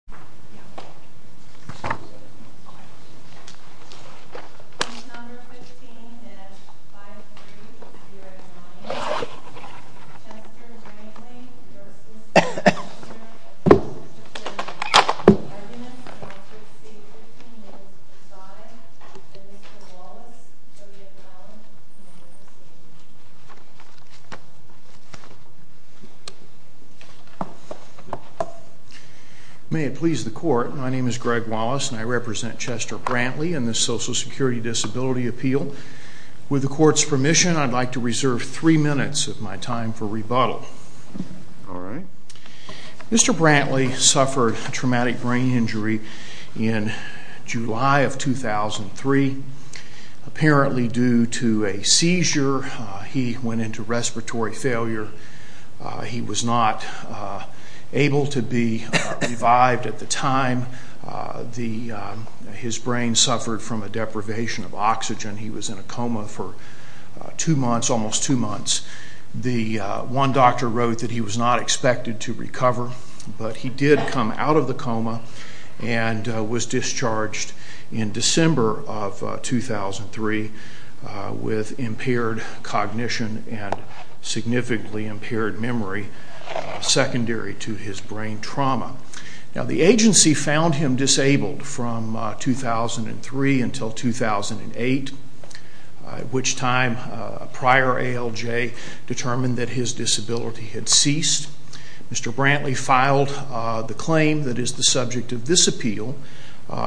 Arguments of Secrecy between Ms. Stein and Mr. Wallace, W. Allen, and Mr. Steele. May it please the Court, my name is Greg Wallace and I represent Chester Brantley and the Social Security Disability Appeal. With the Court's permission, I'd like to reserve three minutes of my time for rebuttal. Mr. Brantley suffered a traumatic brain injury in July of 2003. Apparently due to a seizure, he went into respiratory failure. He was not able to be revived at the time. His brain suffered from a deprivation of oxygen. He was in a coma for two months, almost two months. The one doctor wrote that he was not expected to recover, but he did come out of the coma and was discharged in December of 2003 with impaired cognition and significantly impaired memory, secondary to his brain trauma. The agency found him disabled from 2003 until 2008, at which time a prior ALJ determined that his disability had ceased. Mr. Brantley filed the claim that is the subject of this appeal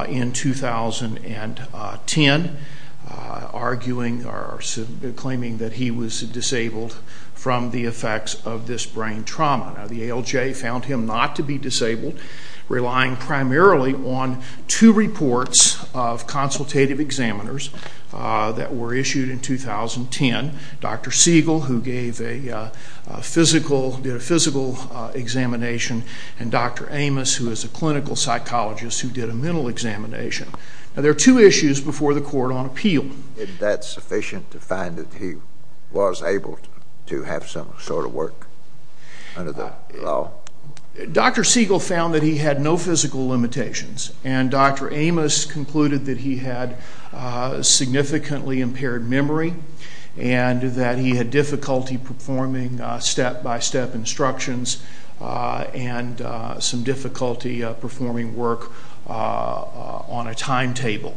in 2010, claiming that he was disabled from the effects of this brain trauma. Now, the ALJ found him not to be disabled, relying primarily on two reports of consultative examiners that were issued in 2010. Dr. Siegel, who gave a physical, did a physical examination, and Dr. Amos, who is a clinical psychologist, who did a mental examination. Now, there are two issues before the Court on appeal. Was that sufficient to find that he was able to have some sort of work under the law? Dr. Siegel found that he had no physical limitations, and Dr. Amos concluded that he had significantly impaired memory and that he had difficulty performing step-by-step instructions and some difficulty performing work on a timetable.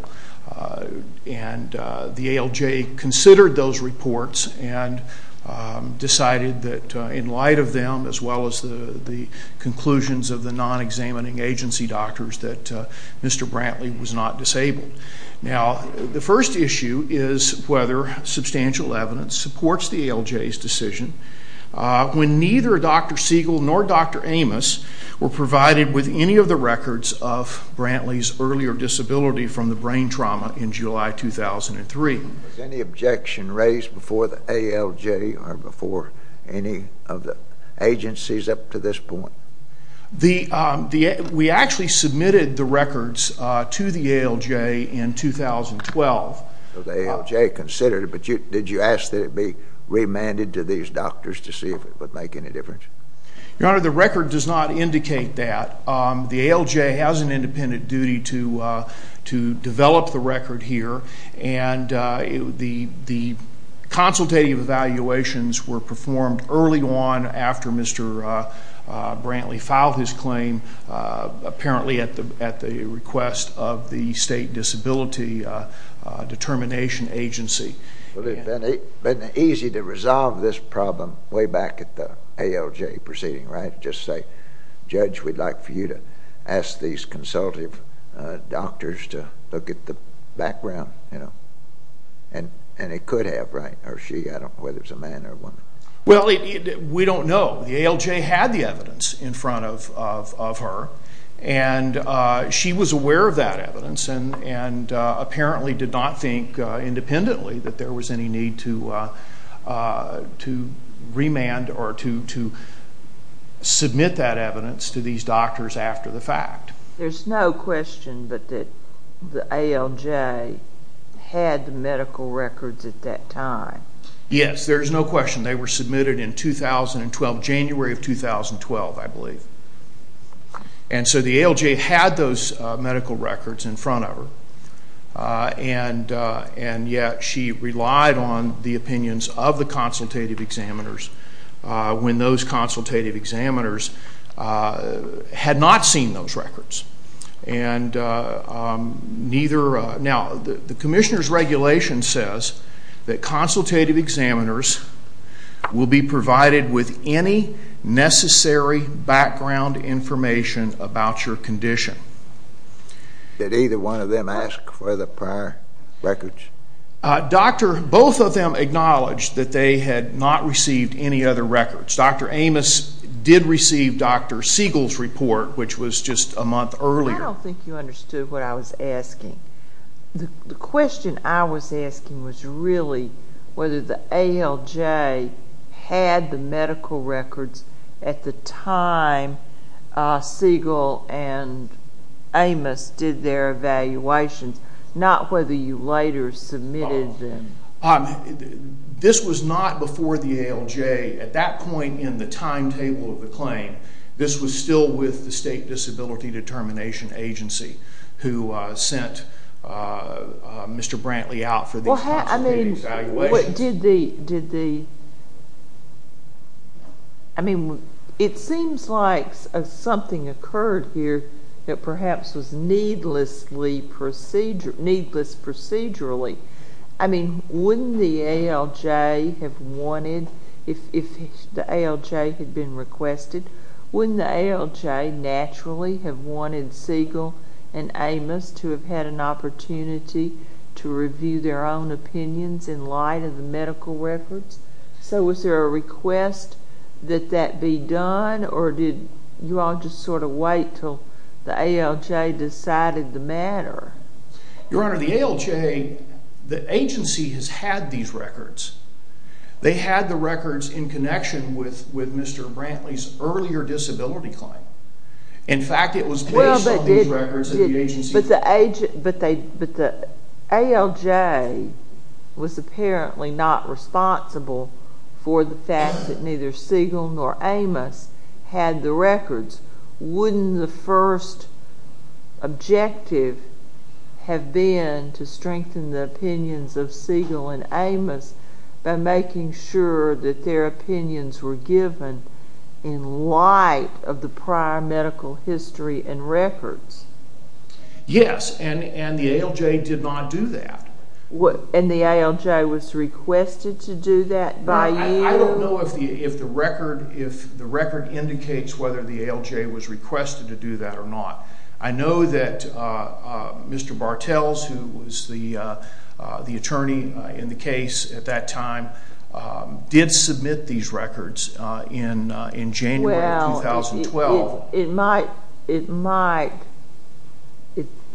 And the ALJ considered those reports and decided that in light of them, as well as the conclusions of the non-examining agency doctors, that Mr. Brantley was not disabled. Now, the first issue is whether substantial evidence supports the ALJ's decision when neither Dr. Siegel nor Dr. Amos were provided with any of the records of Brantley's earlier disability from the brain trauma in July 2003. Was any objection raised before the ALJ or before any of the agencies up to this point? We actually submitted the records to the ALJ in 2012. The ALJ considered it, but did you ask that it be remanded to these doctors to see if it would make any difference? Your Honor, the record does not indicate that. The ALJ has an independent duty to develop the record here, and the consultative evaluations were performed early on after Mr. Brantley filed his claim, apparently at the request of the State Disability Determination Agency. Well, it would have been easy to resolve this problem way back at the ALJ proceeding, right? Just say, Judge, we'd like for you to ask these consultative doctors to look at the background, you know? And it could have, right? Or she, I don't know whether it was a man or a woman. Well, we don't know. The ALJ had the evidence in front of her, and she was aware of that evidence and apparently did not think independently that there was any need to remand or to submit that evidence to these doctors after the fact. There's no question but that the ALJ had the medical records at that time. Yes, there's no question. They were submitted in 2012, January of 2012, I believe. And so the ALJ had those medical records in front of her, and yet she relied on the opinions of the consultative examiners when those consultative examiners had not seen those records. Now, the commissioner's regulation says that consultative examiners will be provided with any necessary background information about your condition. Did either one of them ask for the prior records? Doctor, both of them acknowledged that they had not received any other records. Doctor Amos did receive Doctor Siegel's report, which was just a month earlier. I don't think you understood what I was asking. The question I was asking was really whether the ALJ had the medical records at the time Siegel and Amos did their evaluations, not whether you later submitted them. This was not before the ALJ at that point in the timetable of the claim. This was still with the State Disability Determination Agency who sent Mr. Brantley out for these consultative evaluations. It seems like something occurred here that perhaps was needless procedurally. I mean, wouldn't the ALJ have wanted, if the ALJ had been requested, wouldn't the ALJ naturally have wanted Siegel and Amos to have had an opportunity to review their own opinions in light of the medical records? So was there a request that that be done, or did you all just sort of wait until the ALJ decided the matter? Your Honor, the ALJ, the agency has had these records. They had the records in connection with Mr. Brantley's earlier disability claim. In fact, it was based on these records that the agency had. But the ALJ was apparently not responsible for the fact that neither Siegel nor Amos had the records. Wouldn't the first objective have been to strengthen the opinions of Siegel and Amos by making sure that their opinions were given in light of the prior medical history and records? Yes, and the ALJ did not do that. And the ALJ was requested to do that by you? I don't know if the record indicates whether the ALJ was requested to do that or not. I know that Mr. Bartels, who was the attorney in the case at that time, did submit these records in January of 2012.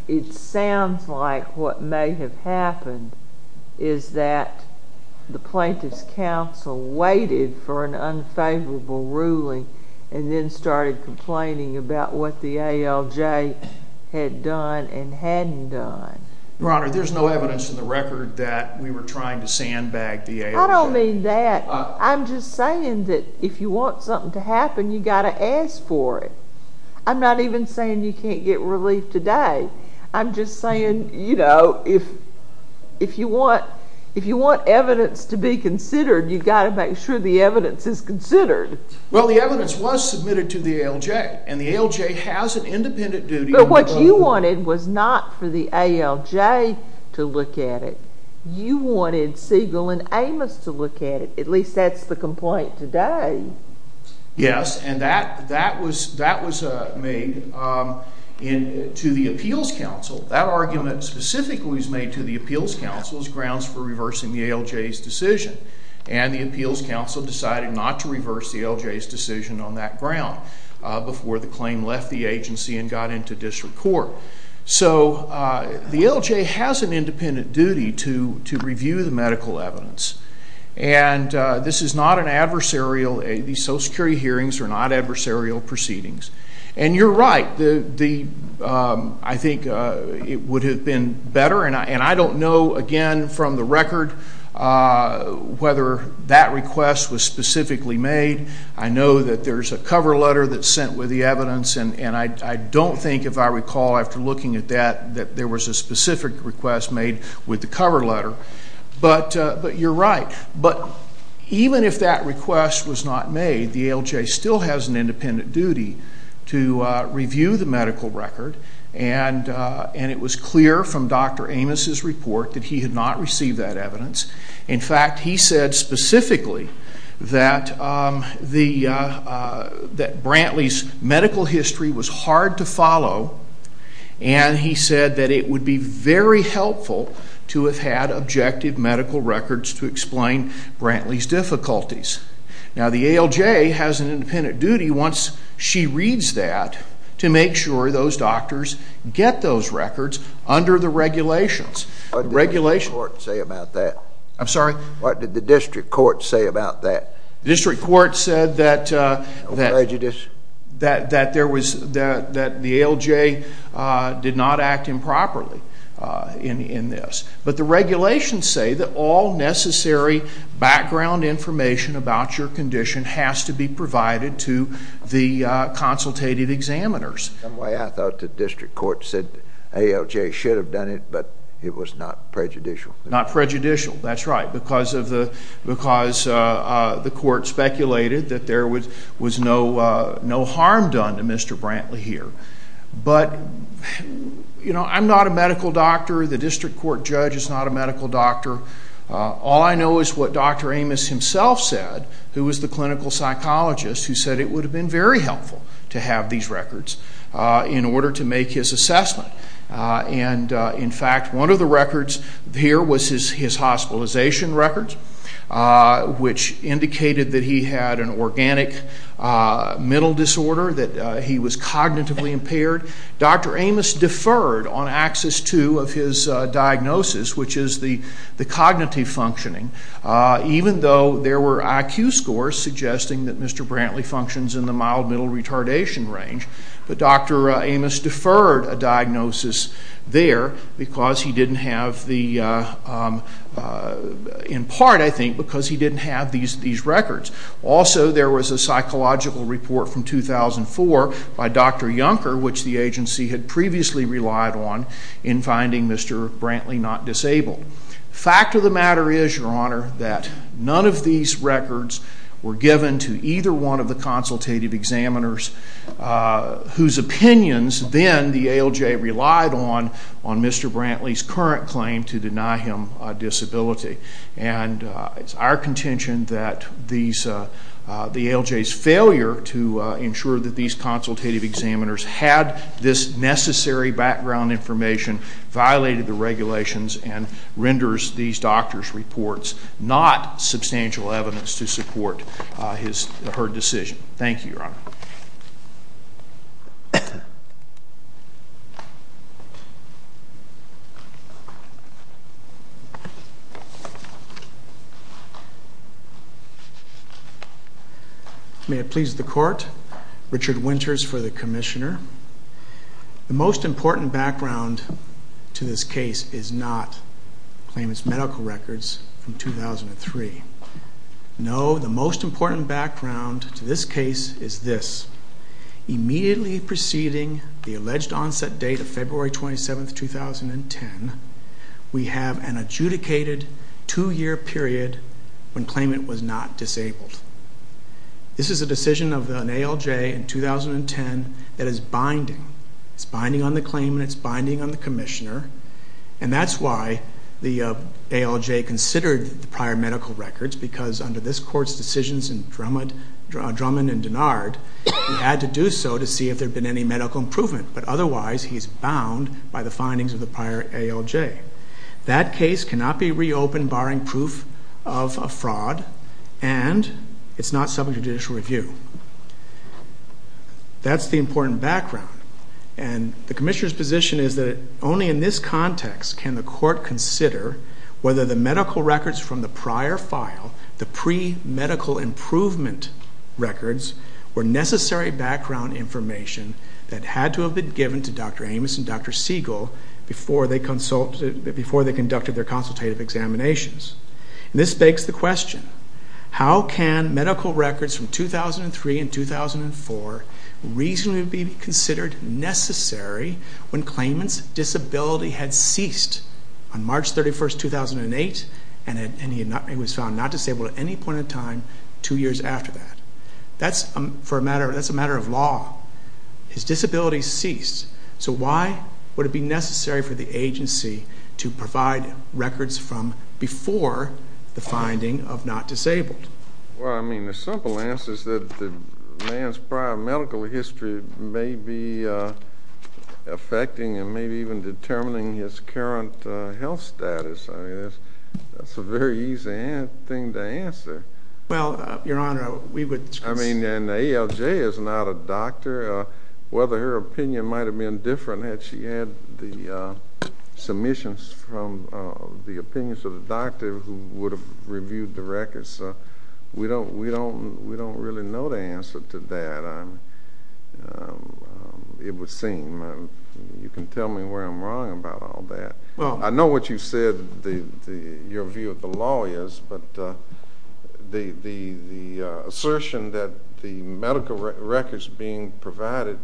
It sounds like what may have happened is that the plaintiff's counsel waited for an unfavorable ruling and then started complaining about what the ALJ had done and hadn't done. Your Honor, there's no evidence in the record that we were trying to sandbag the ALJ. I don't mean that. I'm just saying that if you want something to happen, you've got to ask for it. I'm not even saying you can't get relief today. I'm just saying, you know, if you want evidence to be considered, you've got to make sure the evidence is considered. Well, the evidence was submitted to the ALJ, and the ALJ has an independent duty. But what you wanted was not for the ALJ to look at it. You wanted Siegel and Amos to look at it. At least that's the complaint today. Yes, and that was made to the appeals counsel. That argument specifically was made to the appeals counsel as grounds for reversing the ALJ's decision. And the appeals counsel decided not to reverse the ALJ's decision on that ground before the claim left the agency and got into district court. So the ALJ has an independent duty to review the medical evidence. And this is not an adversarial, these Social Security hearings are not adversarial proceedings. And you're right, I think it would have been better, and I don't know again from the record whether that request was specifically made. I know that there's a cover letter that's sent with the evidence, and I don't think, if I recall after looking at that, that there was a specific request made with the cover letter. But you're right. But even if that request was not made, the ALJ still has an independent duty to review the medical record. And it was clear from Dr. Amos's report that he had not received that evidence. In fact, he said specifically that Brantley's medical history was hard to follow, and he said that it would be very helpful to have had objective medical records to explain Brantley's difficulties. Now, the ALJ has an independent duty, once she reads that, to make sure those doctors get those records under the regulations. What did the district court say about that? I'm sorry? What did the district court say about that? The district court said that the ALJ did not act improperly in this. But the regulations say that all necessary background information about your condition has to be provided to the consultative examiners. In some way, I thought the district court said the ALJ should have done it, but it was not prejudicial. Not prejudicial, that's right, because the court speculated that there was no harm done to Mr. Brantley here. But, you know, I'm not a medical doctor. The district court judge is not a medical doctor. All I know is what Dr. Amos himself said, who was the clinical psychologist, who said it would have been very helpful to have these records in order to make his assessment. And, in fact, one of the records here was his hospitalization records, which indicated that he had an organic mental disorder, that he was cognitively impaired. Dr. Amos deferred on axis two of his diagnosis, which is the cognitive functioning, even though there were IQ scores suggesting that Mr. Brantley functions in the mild-middle retardation range. But Dr. Amos deferred a diagnosis there because he didn't have the, in part, I think, because he didn't have these records. Also, there was a psychological report from 2004 by Dr. Junker, which the agency had previously relied on in finding Mr. Brantley not disabled. The fact of the matter is, Your Honor, that none of these records were given to either one of the consultative examiners whose opinions then the ALJ relied on on Mr. Brantley's current claim to deny him a disability. And it's our contention that the ALJ's failure to ensure that these consultative examiners had this necessary background information violated the regulations and renders these doctors' reports not substantial evidence to support her decision. Thank you, Your Honor. May it please the Court, Richard Winters for the Commissioner. The most important background to this case is not Claimant's medical records from 2003. No, the most important background to this case is this. Immediately preceding the alleged onset date of February 27, 2010, we have an adjudicated two-year period when Claimant was not disabled. This is a decision of an ALJ in 2010 that is binding. It's binding on the Claimant. It's binding on the Commissioner. And that's why the ALJ considered the prior medical records, because under this Court's decisions in Drummond and Dinard, we had to do so to see if there had been any medical improvement. But otherwise, he's bound by the findings of the prior ALJ. That case cannot be reopened barring proof of a fraud, and it's not subject to judicial review. That's the important background. And the Commissioner's position is that only in this context can the Court consider whether the medical records from the prior file, the pre-medical improvement records, were necessary background information that had to have been given to Dr. Amos and Dr. Siegel before they conducted their consultative examinations. And this begs the question, how can medical records from 2003 and 2004 reasonably be considered necessary when Claimant's disability had ceased on March 31, 2008, and he was found not disabled at any point in time two years after that? That's a matter of law. His disability ceased. So why would it be necessary for the agency to provide records from before the finding of not disabled? Well, I mean, the simple answer is that the man's prior medical history may be affecting and may be even determining his current health status. I mean, that's a very easy thing to answer. Well, Your Honor, we would... I mean, an ALJ is not a doctor. Whether her opinion might have been different had she had the submissions from the opinions of the doctor who would have reviewed the records, we don't really know the answer to that. It would seem. You can tell me where I'm wrong about all that. I know what you said, your view of the law is, but the assertion that the medical records being provided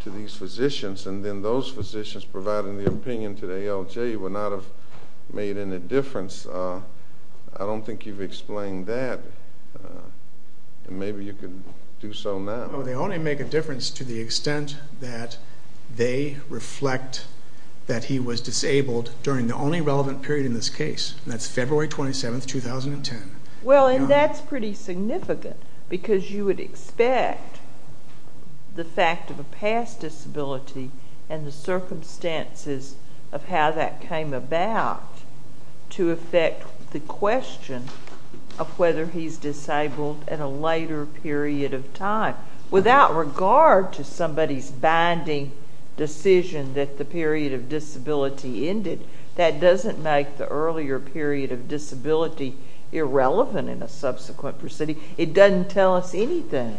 to these physicians and then those physicians providing the opinion to the ALJ would not have made any difference, I don't think you've explained that. Maybe you can do so now. They only make a difference to the extent that they reflect that he was disabled during the only relevant period in this case, and that's February 27, 2010. Well, and that's pretty significant, because you would expect the fact of a past disability and the circumstances of how that came about to affect the question of whether he's disabled at a later period of time. Without regard to somebody's binding decision that the period of disability ended, that doesn't make the earlier period of disability irrelevant in a subsequent proceeding. It doesn't tell us anything.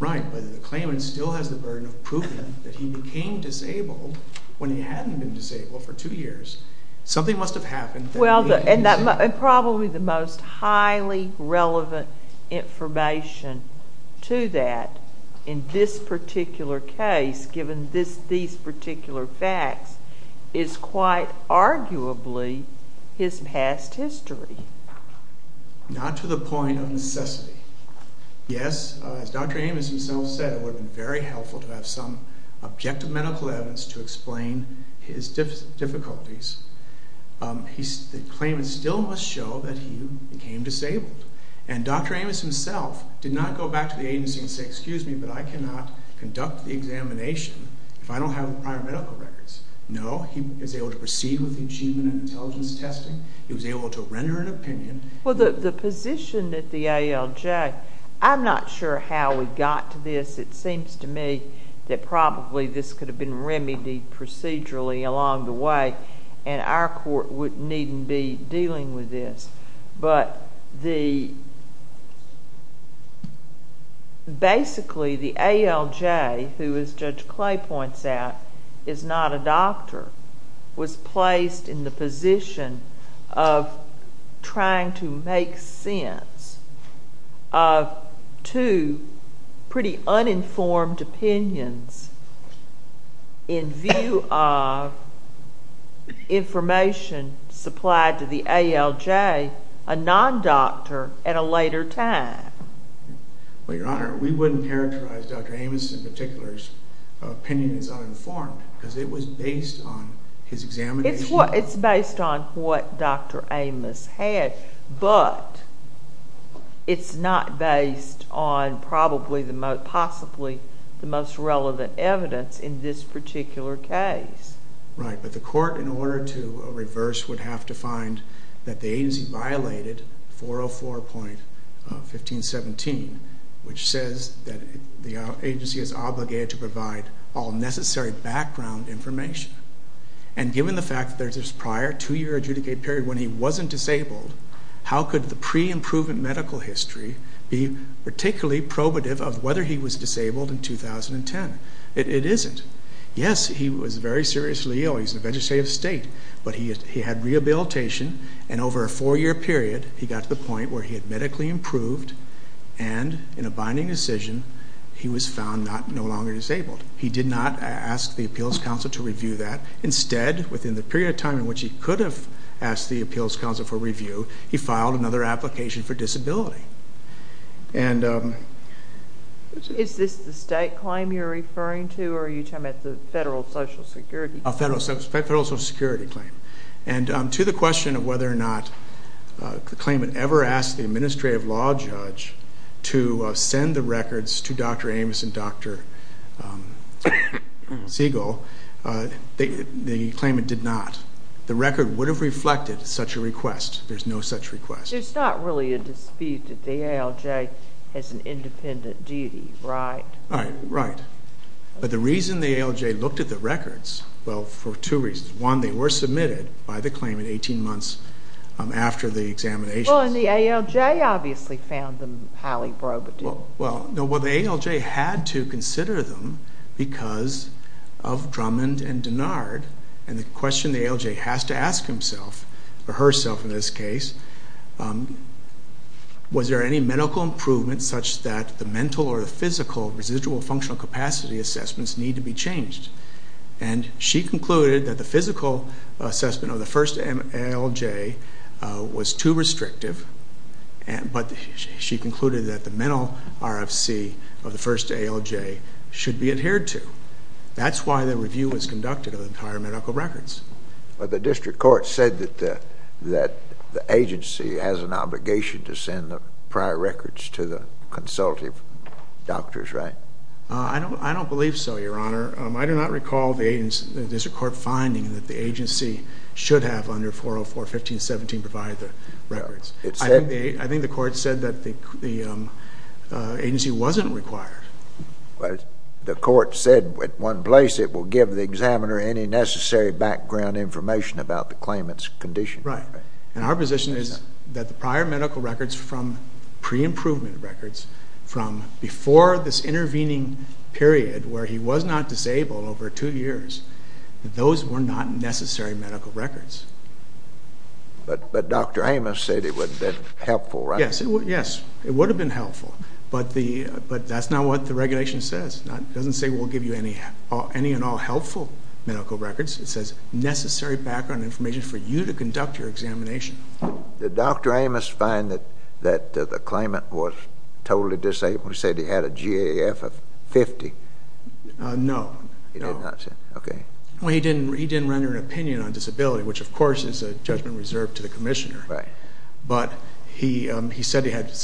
Right, but the claimant still has the burden of proving that he became disabled when he hadn't been disabled for two years. Something must have happened. Well, and probably the most highly relevant information to that in this particular case, given these particular facts, is quite arguably his past history. Not to the point of necessity. Yes, as Dr. Amos himself said, it would have been very helpful to have some objective medical evidence to explain his difficulties. The claimant still must show that he became disabled. And Dr. Amos himself did not go back to the agency and say, excuse me, but I cannot conduct the examination if I don't have the prior medical records. No, he was able to proceed with the achievement of intelligence testing. He was able to render an opinion. Well, the position at the ALJ, I'm not sure how we got to this. It seems to me that probably this could have been remedied procedurally along the way, and our court wouldn't needn't be dealing with this. But basically the ALJ, who, as Judge Clay points out, is not a doctor, was placed in the position of trying to make sense of two pretty uninformed opinions in view of information supplied to the ALJ, a non-doctor at a later time. Well, Your Honor, we wouldn't characterize Dr. Amos in particular's opinion as uninformed because it was based on his examination. It's based on what Dr. Amos had, but it's not based on possibly the most relevant evidence in this particular case. Right, but the court, in order to reverse, would have to find that the agency violated 404.1517, which says that the agency is obligated to provide all necessary background information. And given the fact that there's this prior two-year adjudicated period when he wasn't disabled, how could the pre-improvement medical history be particularly probative of whether he was disabled in 2010? It isn't. Yes, he was very seriously ill. He was in a vegetative state, but he had rehabilitation, and over a four-year period he got to the point where he had medically improved, and in a binding decision he was found no longer disabled. He did not ask the Appeals Council to review that. Instead, within the period of time in which he could have asked the Appeals Council for review, he filed another application for disability. Is this the state claim you're referring to, or are you talking about the federal Social Security claim? A federal Social Security claim. And to the question of whether or not the claimant ever asked the administrative law judge to send the records to Dr. Amos and Dr. Siegel, the claimant did not. The record would have reflected such a request. There's no such request. There's not really a dispute that the ALJ has an independent duty, right? Right. But the reason the ALJ looked at the records, well, for two reasons. One, they were submitted by the claimant 18 months after the examination. Well, and the ALJ obviously found them highly probative. Well, the ALJ had to consider them because of Drummond and Dennard, and the question the ALJ has to ask himself, or herself in this case, was there any medical improvement such that the mental or the physical residual functional capacity assessments need to be changed? And she concluded that the physical assessment of the first ALJ was too restrictive, but she concluded that the mental RFC of the first ALJ should be adhered to. That's why the review was conducted of the prior medical records. But the district court said that the agency has an obligation to send the prior records to the consultative doctors, right? I don't believe so, Your Honor. I do not recall the district court finding that the agency should have under 404.15.17 provided the records. I think the court said that the agency wasn't required. The court said at one place it will give the examiner any necessary background information about the claimant's condition. Right. And our position is that the prior medical records from pre-improvement records from before this intervening period where he was not disabled over two years, those were not necessary medical records. But Dr. Amos said it would have been helpful, right? Yes, it would have been helpful. But that's not what the regulation says. It doesn't say we'll give you any and all helpful medical records. It says necessary background information for you to conduct your examination. Did Dr. Amos find that the claimant was totally disabled? He said he had a GAF of 50. No. He did not, okay. Well, he didn't render an opinion on disability, which of course is a judgment reserved to the commissioner. Right. But he said he had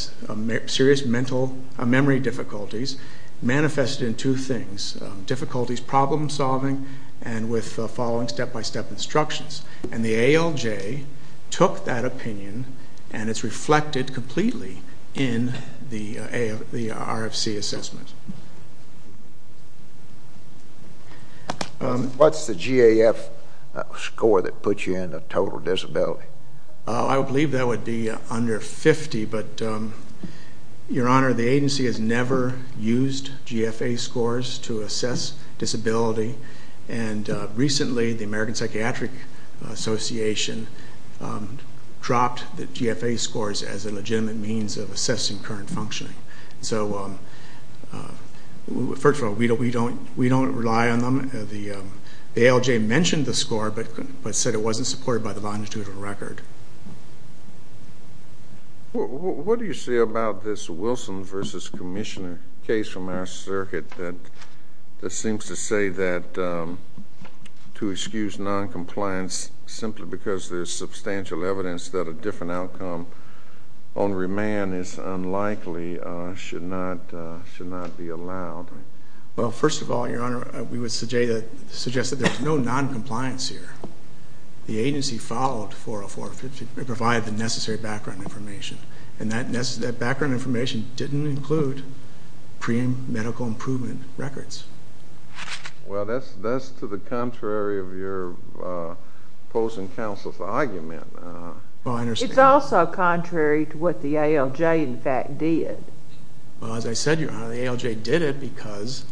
serious memory difficulties manifested in two things, difficulties problem-solving and with following step-by-step instructions. And the ALJ took that opinion, and it's reflected completely in the RFC assessment. What's the GAF score that puts you in a total disability? I believe that would be under 50, but, Your Honor, the agency has never used GFA scores to assess disability. And recently the American Psychiatric Association dropped the GFA scores as a legitimate means of assessing current functioning. So, first of all, we don't rely on them. The ALJ mentioned the score but said it wasn't supported by the longitudinal record. What do you say about this Wilson v. Commissioner case from our circuit that seems to say that to excuse noncompliance simply because there's substantial evidence that a different outcome on remand is unlikely should not be allowed? Well, first of all, Your Honor, we would suggest that there's no noncompliance here. The agency followed 404 to provide the necessary background information, and that background information didn't include pre-medical improvement records. Well, that's to the contrary of your opposing counsel's argument. It's also contrary to what the ALJ, in fact, did. Well, as I said, Your Honor, the ALJ did it because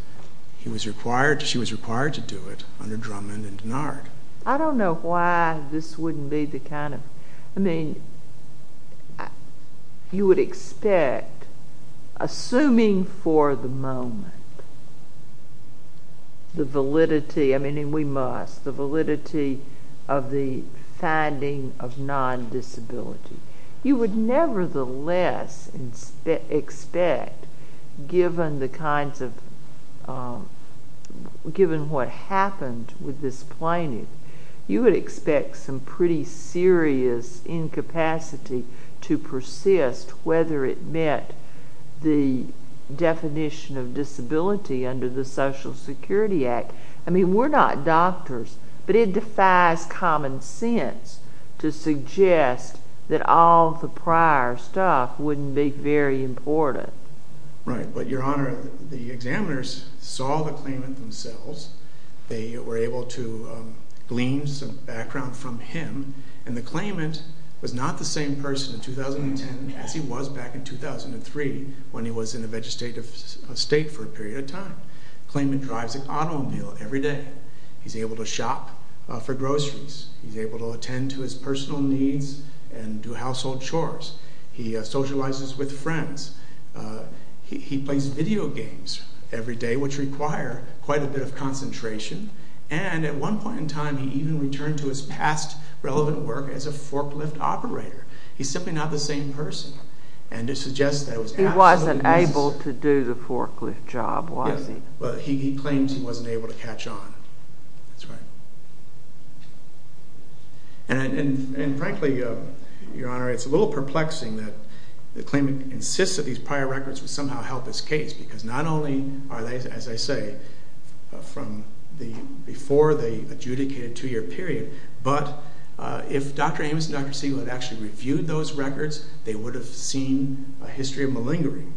she was required to do it under Drummond and Denard. I don't know why this wouldn't be the kind of... I mean, you would expect, assuming for the moment, the validity, I mean, and we must, the validity of the finding of non-disability. You would nevertheless expect, given what happened with this plaintiff, you would expect some pretty serious incapacity to persist, whether it met the definition of disability under the Social Security Act. I mean, we're not doctors, but it defies common sense to suggest that all the prior stuff wouldn't be very important. Right, but, Your Honor, the examiners saw the claimant themselves. They were able to glean some background from him, and the claimant was not the same person in 2010 as he was back in 2003 when he was in a vegetative state for a period of time. The claimant drives an automobile every day. He's able to shop for groceries. He's able to attend to his personal needs and do household chores. He socializes with friends. He plays video games every day, which require quite a bit of concentration, and at one point in time, he even returned to his past relevant work as a forklift operator. He's simply not the same person, and to suggest that it was absolutely necessary... Well, he claims he wasn't able to catch on. That's right. And frankly, Your Honor, it's a little perplexing that the claimant insists that these prior records would somehow help his case because not only are they, as I say, from before the adjudicated two-year period, but if Dr. Amos and Dr. Siegel had actually reviewed those records, they would have seen a history of malingering.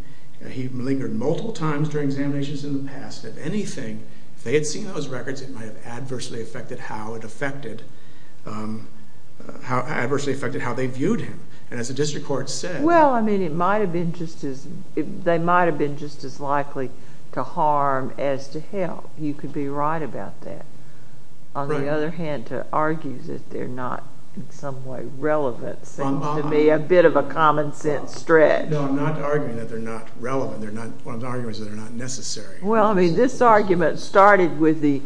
He malingered multiple times during examinations in the past. If anything, if they had seen those records, it might have adversely affected how they viewed him. And as the district court said... Well, I mean, they might have been just as likely to harm as to help. You could be right about that. On the other hand, to argue that they're not in some way relevant seems to me a bit of a common-sense stretch. No, I'm not arguing that they're not relevant. What I'm arguing is that they're not necessary. Well, I mean, this argument started with the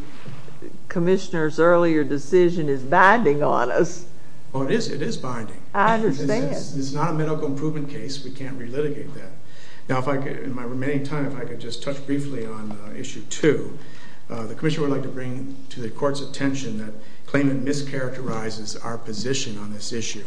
commissioner's earlier decision is binding on us. Well, it is binding. I understand. This is not a medical improvement case. We can't relitigate that. Now, in my remaining time, if I could just touch briefly on Issue 2. The commissioner would like to bring to the court's attention that claimant mischaracterizes our position on this issue.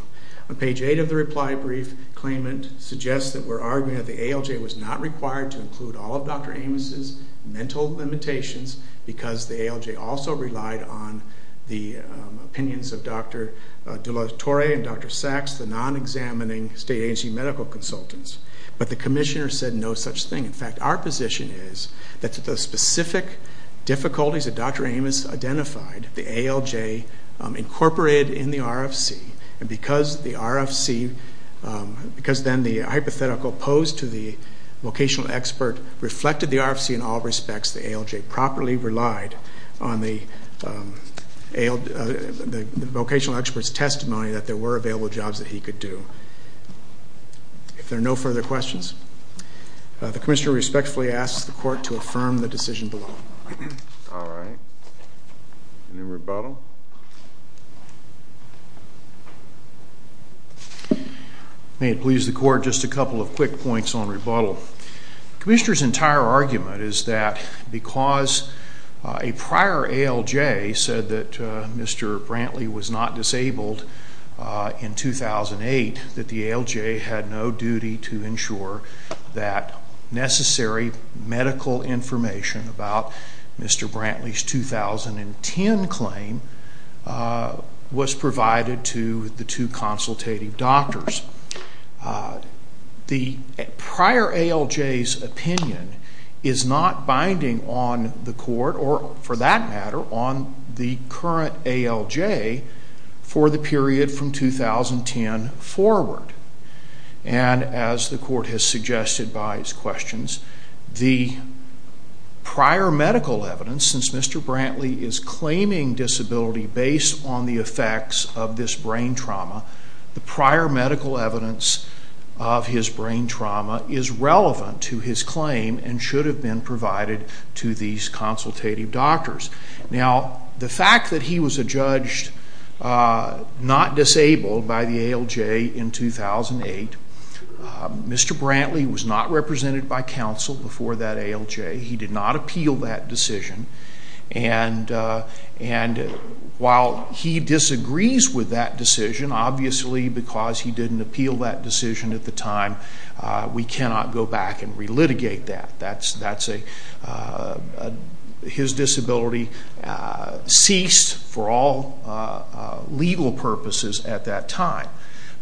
On page 8 of the reply brief, claimant suggests that we're arguing that the ALJ was not required to include all of Dr. Amos' mental limitations because the ALJ also relied on the opinions of Dr. De La Torre and Dr. Sachs, the non-examining state agency medical consultants. But the commissioner said no such thing. In fact, our position is that the specific difficulties that Dr. Amos identified, the ALJ incorporated in the RFC, and because then the hypothetical posed to the vocational expert reflected the RFC in all respects, the ALJ properly relied on the vocational expert's testimony that there were available jobs that he could do. If there are no further questions, the commissioner respectfully asks the court to affirm the decision below. All right. Any rebuttal? May it please the court, just a couple of quick points on rebuttal. The commissioner's entire argument is that because a prior ALJ said that Mr. Brantley was not disabled in 2008, that the ALJ had no duty to ensure that necessary medical information about Mr. Brantley's 2010 claim was provided to the two consultative doctors. The prior ALJ's opinion is not binding on the court or, for that matter, on the current ALJ for the period from 2010 forward. And as the court has suggested by its questions, the prior medical evidence, since Mr. Brantley is claiming disability based on the effects of this brain trauma, the prior medical evidence of his brain trauma is relevant to his claim and should have been provided to these consultative doctors. Now, the fact that he was adjudged not disabled by the ALJ in 2008, Mr. Brantley was not represented by counsel before that ALJ. He did not appeal that decision. And while he disagrees with that decision, obviously because he didn't appeal that decision at the time, we cannot go back and relitigate that. His disability ceased for all legal purposes at that time.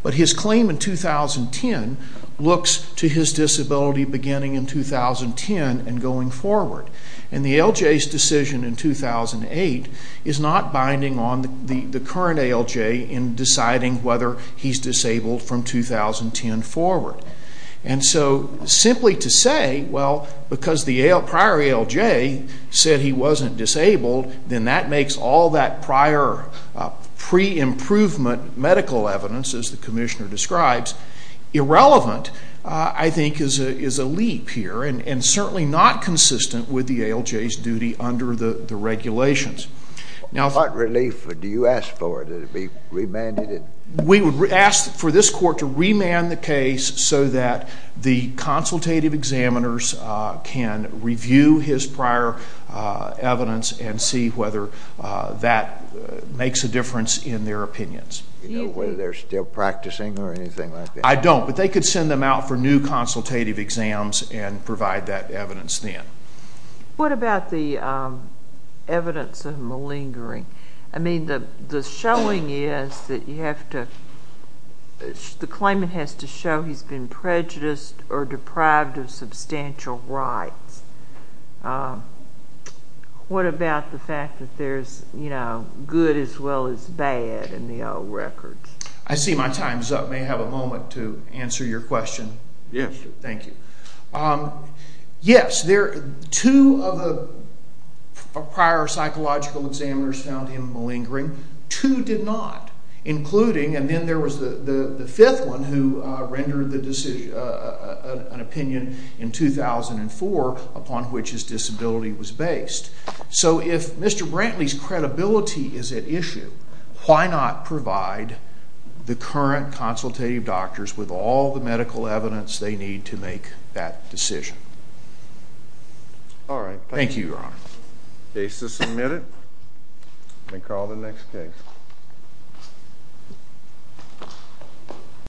But his claim in 2010 looks to his disability beginning in 2010 and going forward. And the ALJ's decision in 2008 is not binding on the current ALJ in deciding whether he's disabled from 2010 forward. And so simply to say, well, because the prior ALJ said he wasn't disabled, then that makes all that prior pre-improvement medical evidence, as the commissioner describes, irrelevant, I think is a leap here and certainly not consistent with the ALJ's duty under the regulations. What relief do you ask for? That it be remanded? We would ask for this court to remand the case so that the consultative examiners can review his prior evidence and see whether that makes a difference in their opinions. Do you know whether they're still practicing or anything like that? I don't, but they could send them out for new consultative exams and provide that evidence then. What about the evidence of malingering? I mean, the showing is that you have to, the claimant has to show he's been prejudiced or deprived of substantial rights. What about the fact that there's, you know, good as well as bad in the old records? I see my time's up. May I have a moment to answer your question? Yes. Thank you. Yes, two of the prior psychological examiners found him malingering. Two did not, including, and then there was the fifth one who rendered an opinion in 2004 upon which his disability was based. So if Mr. Brantley's credibility is at issue, why not provide the current consultative doctors with all the medical evidence they need to make that decision? All right. Thank you, Your Honor. Case is submitted. May call the next case.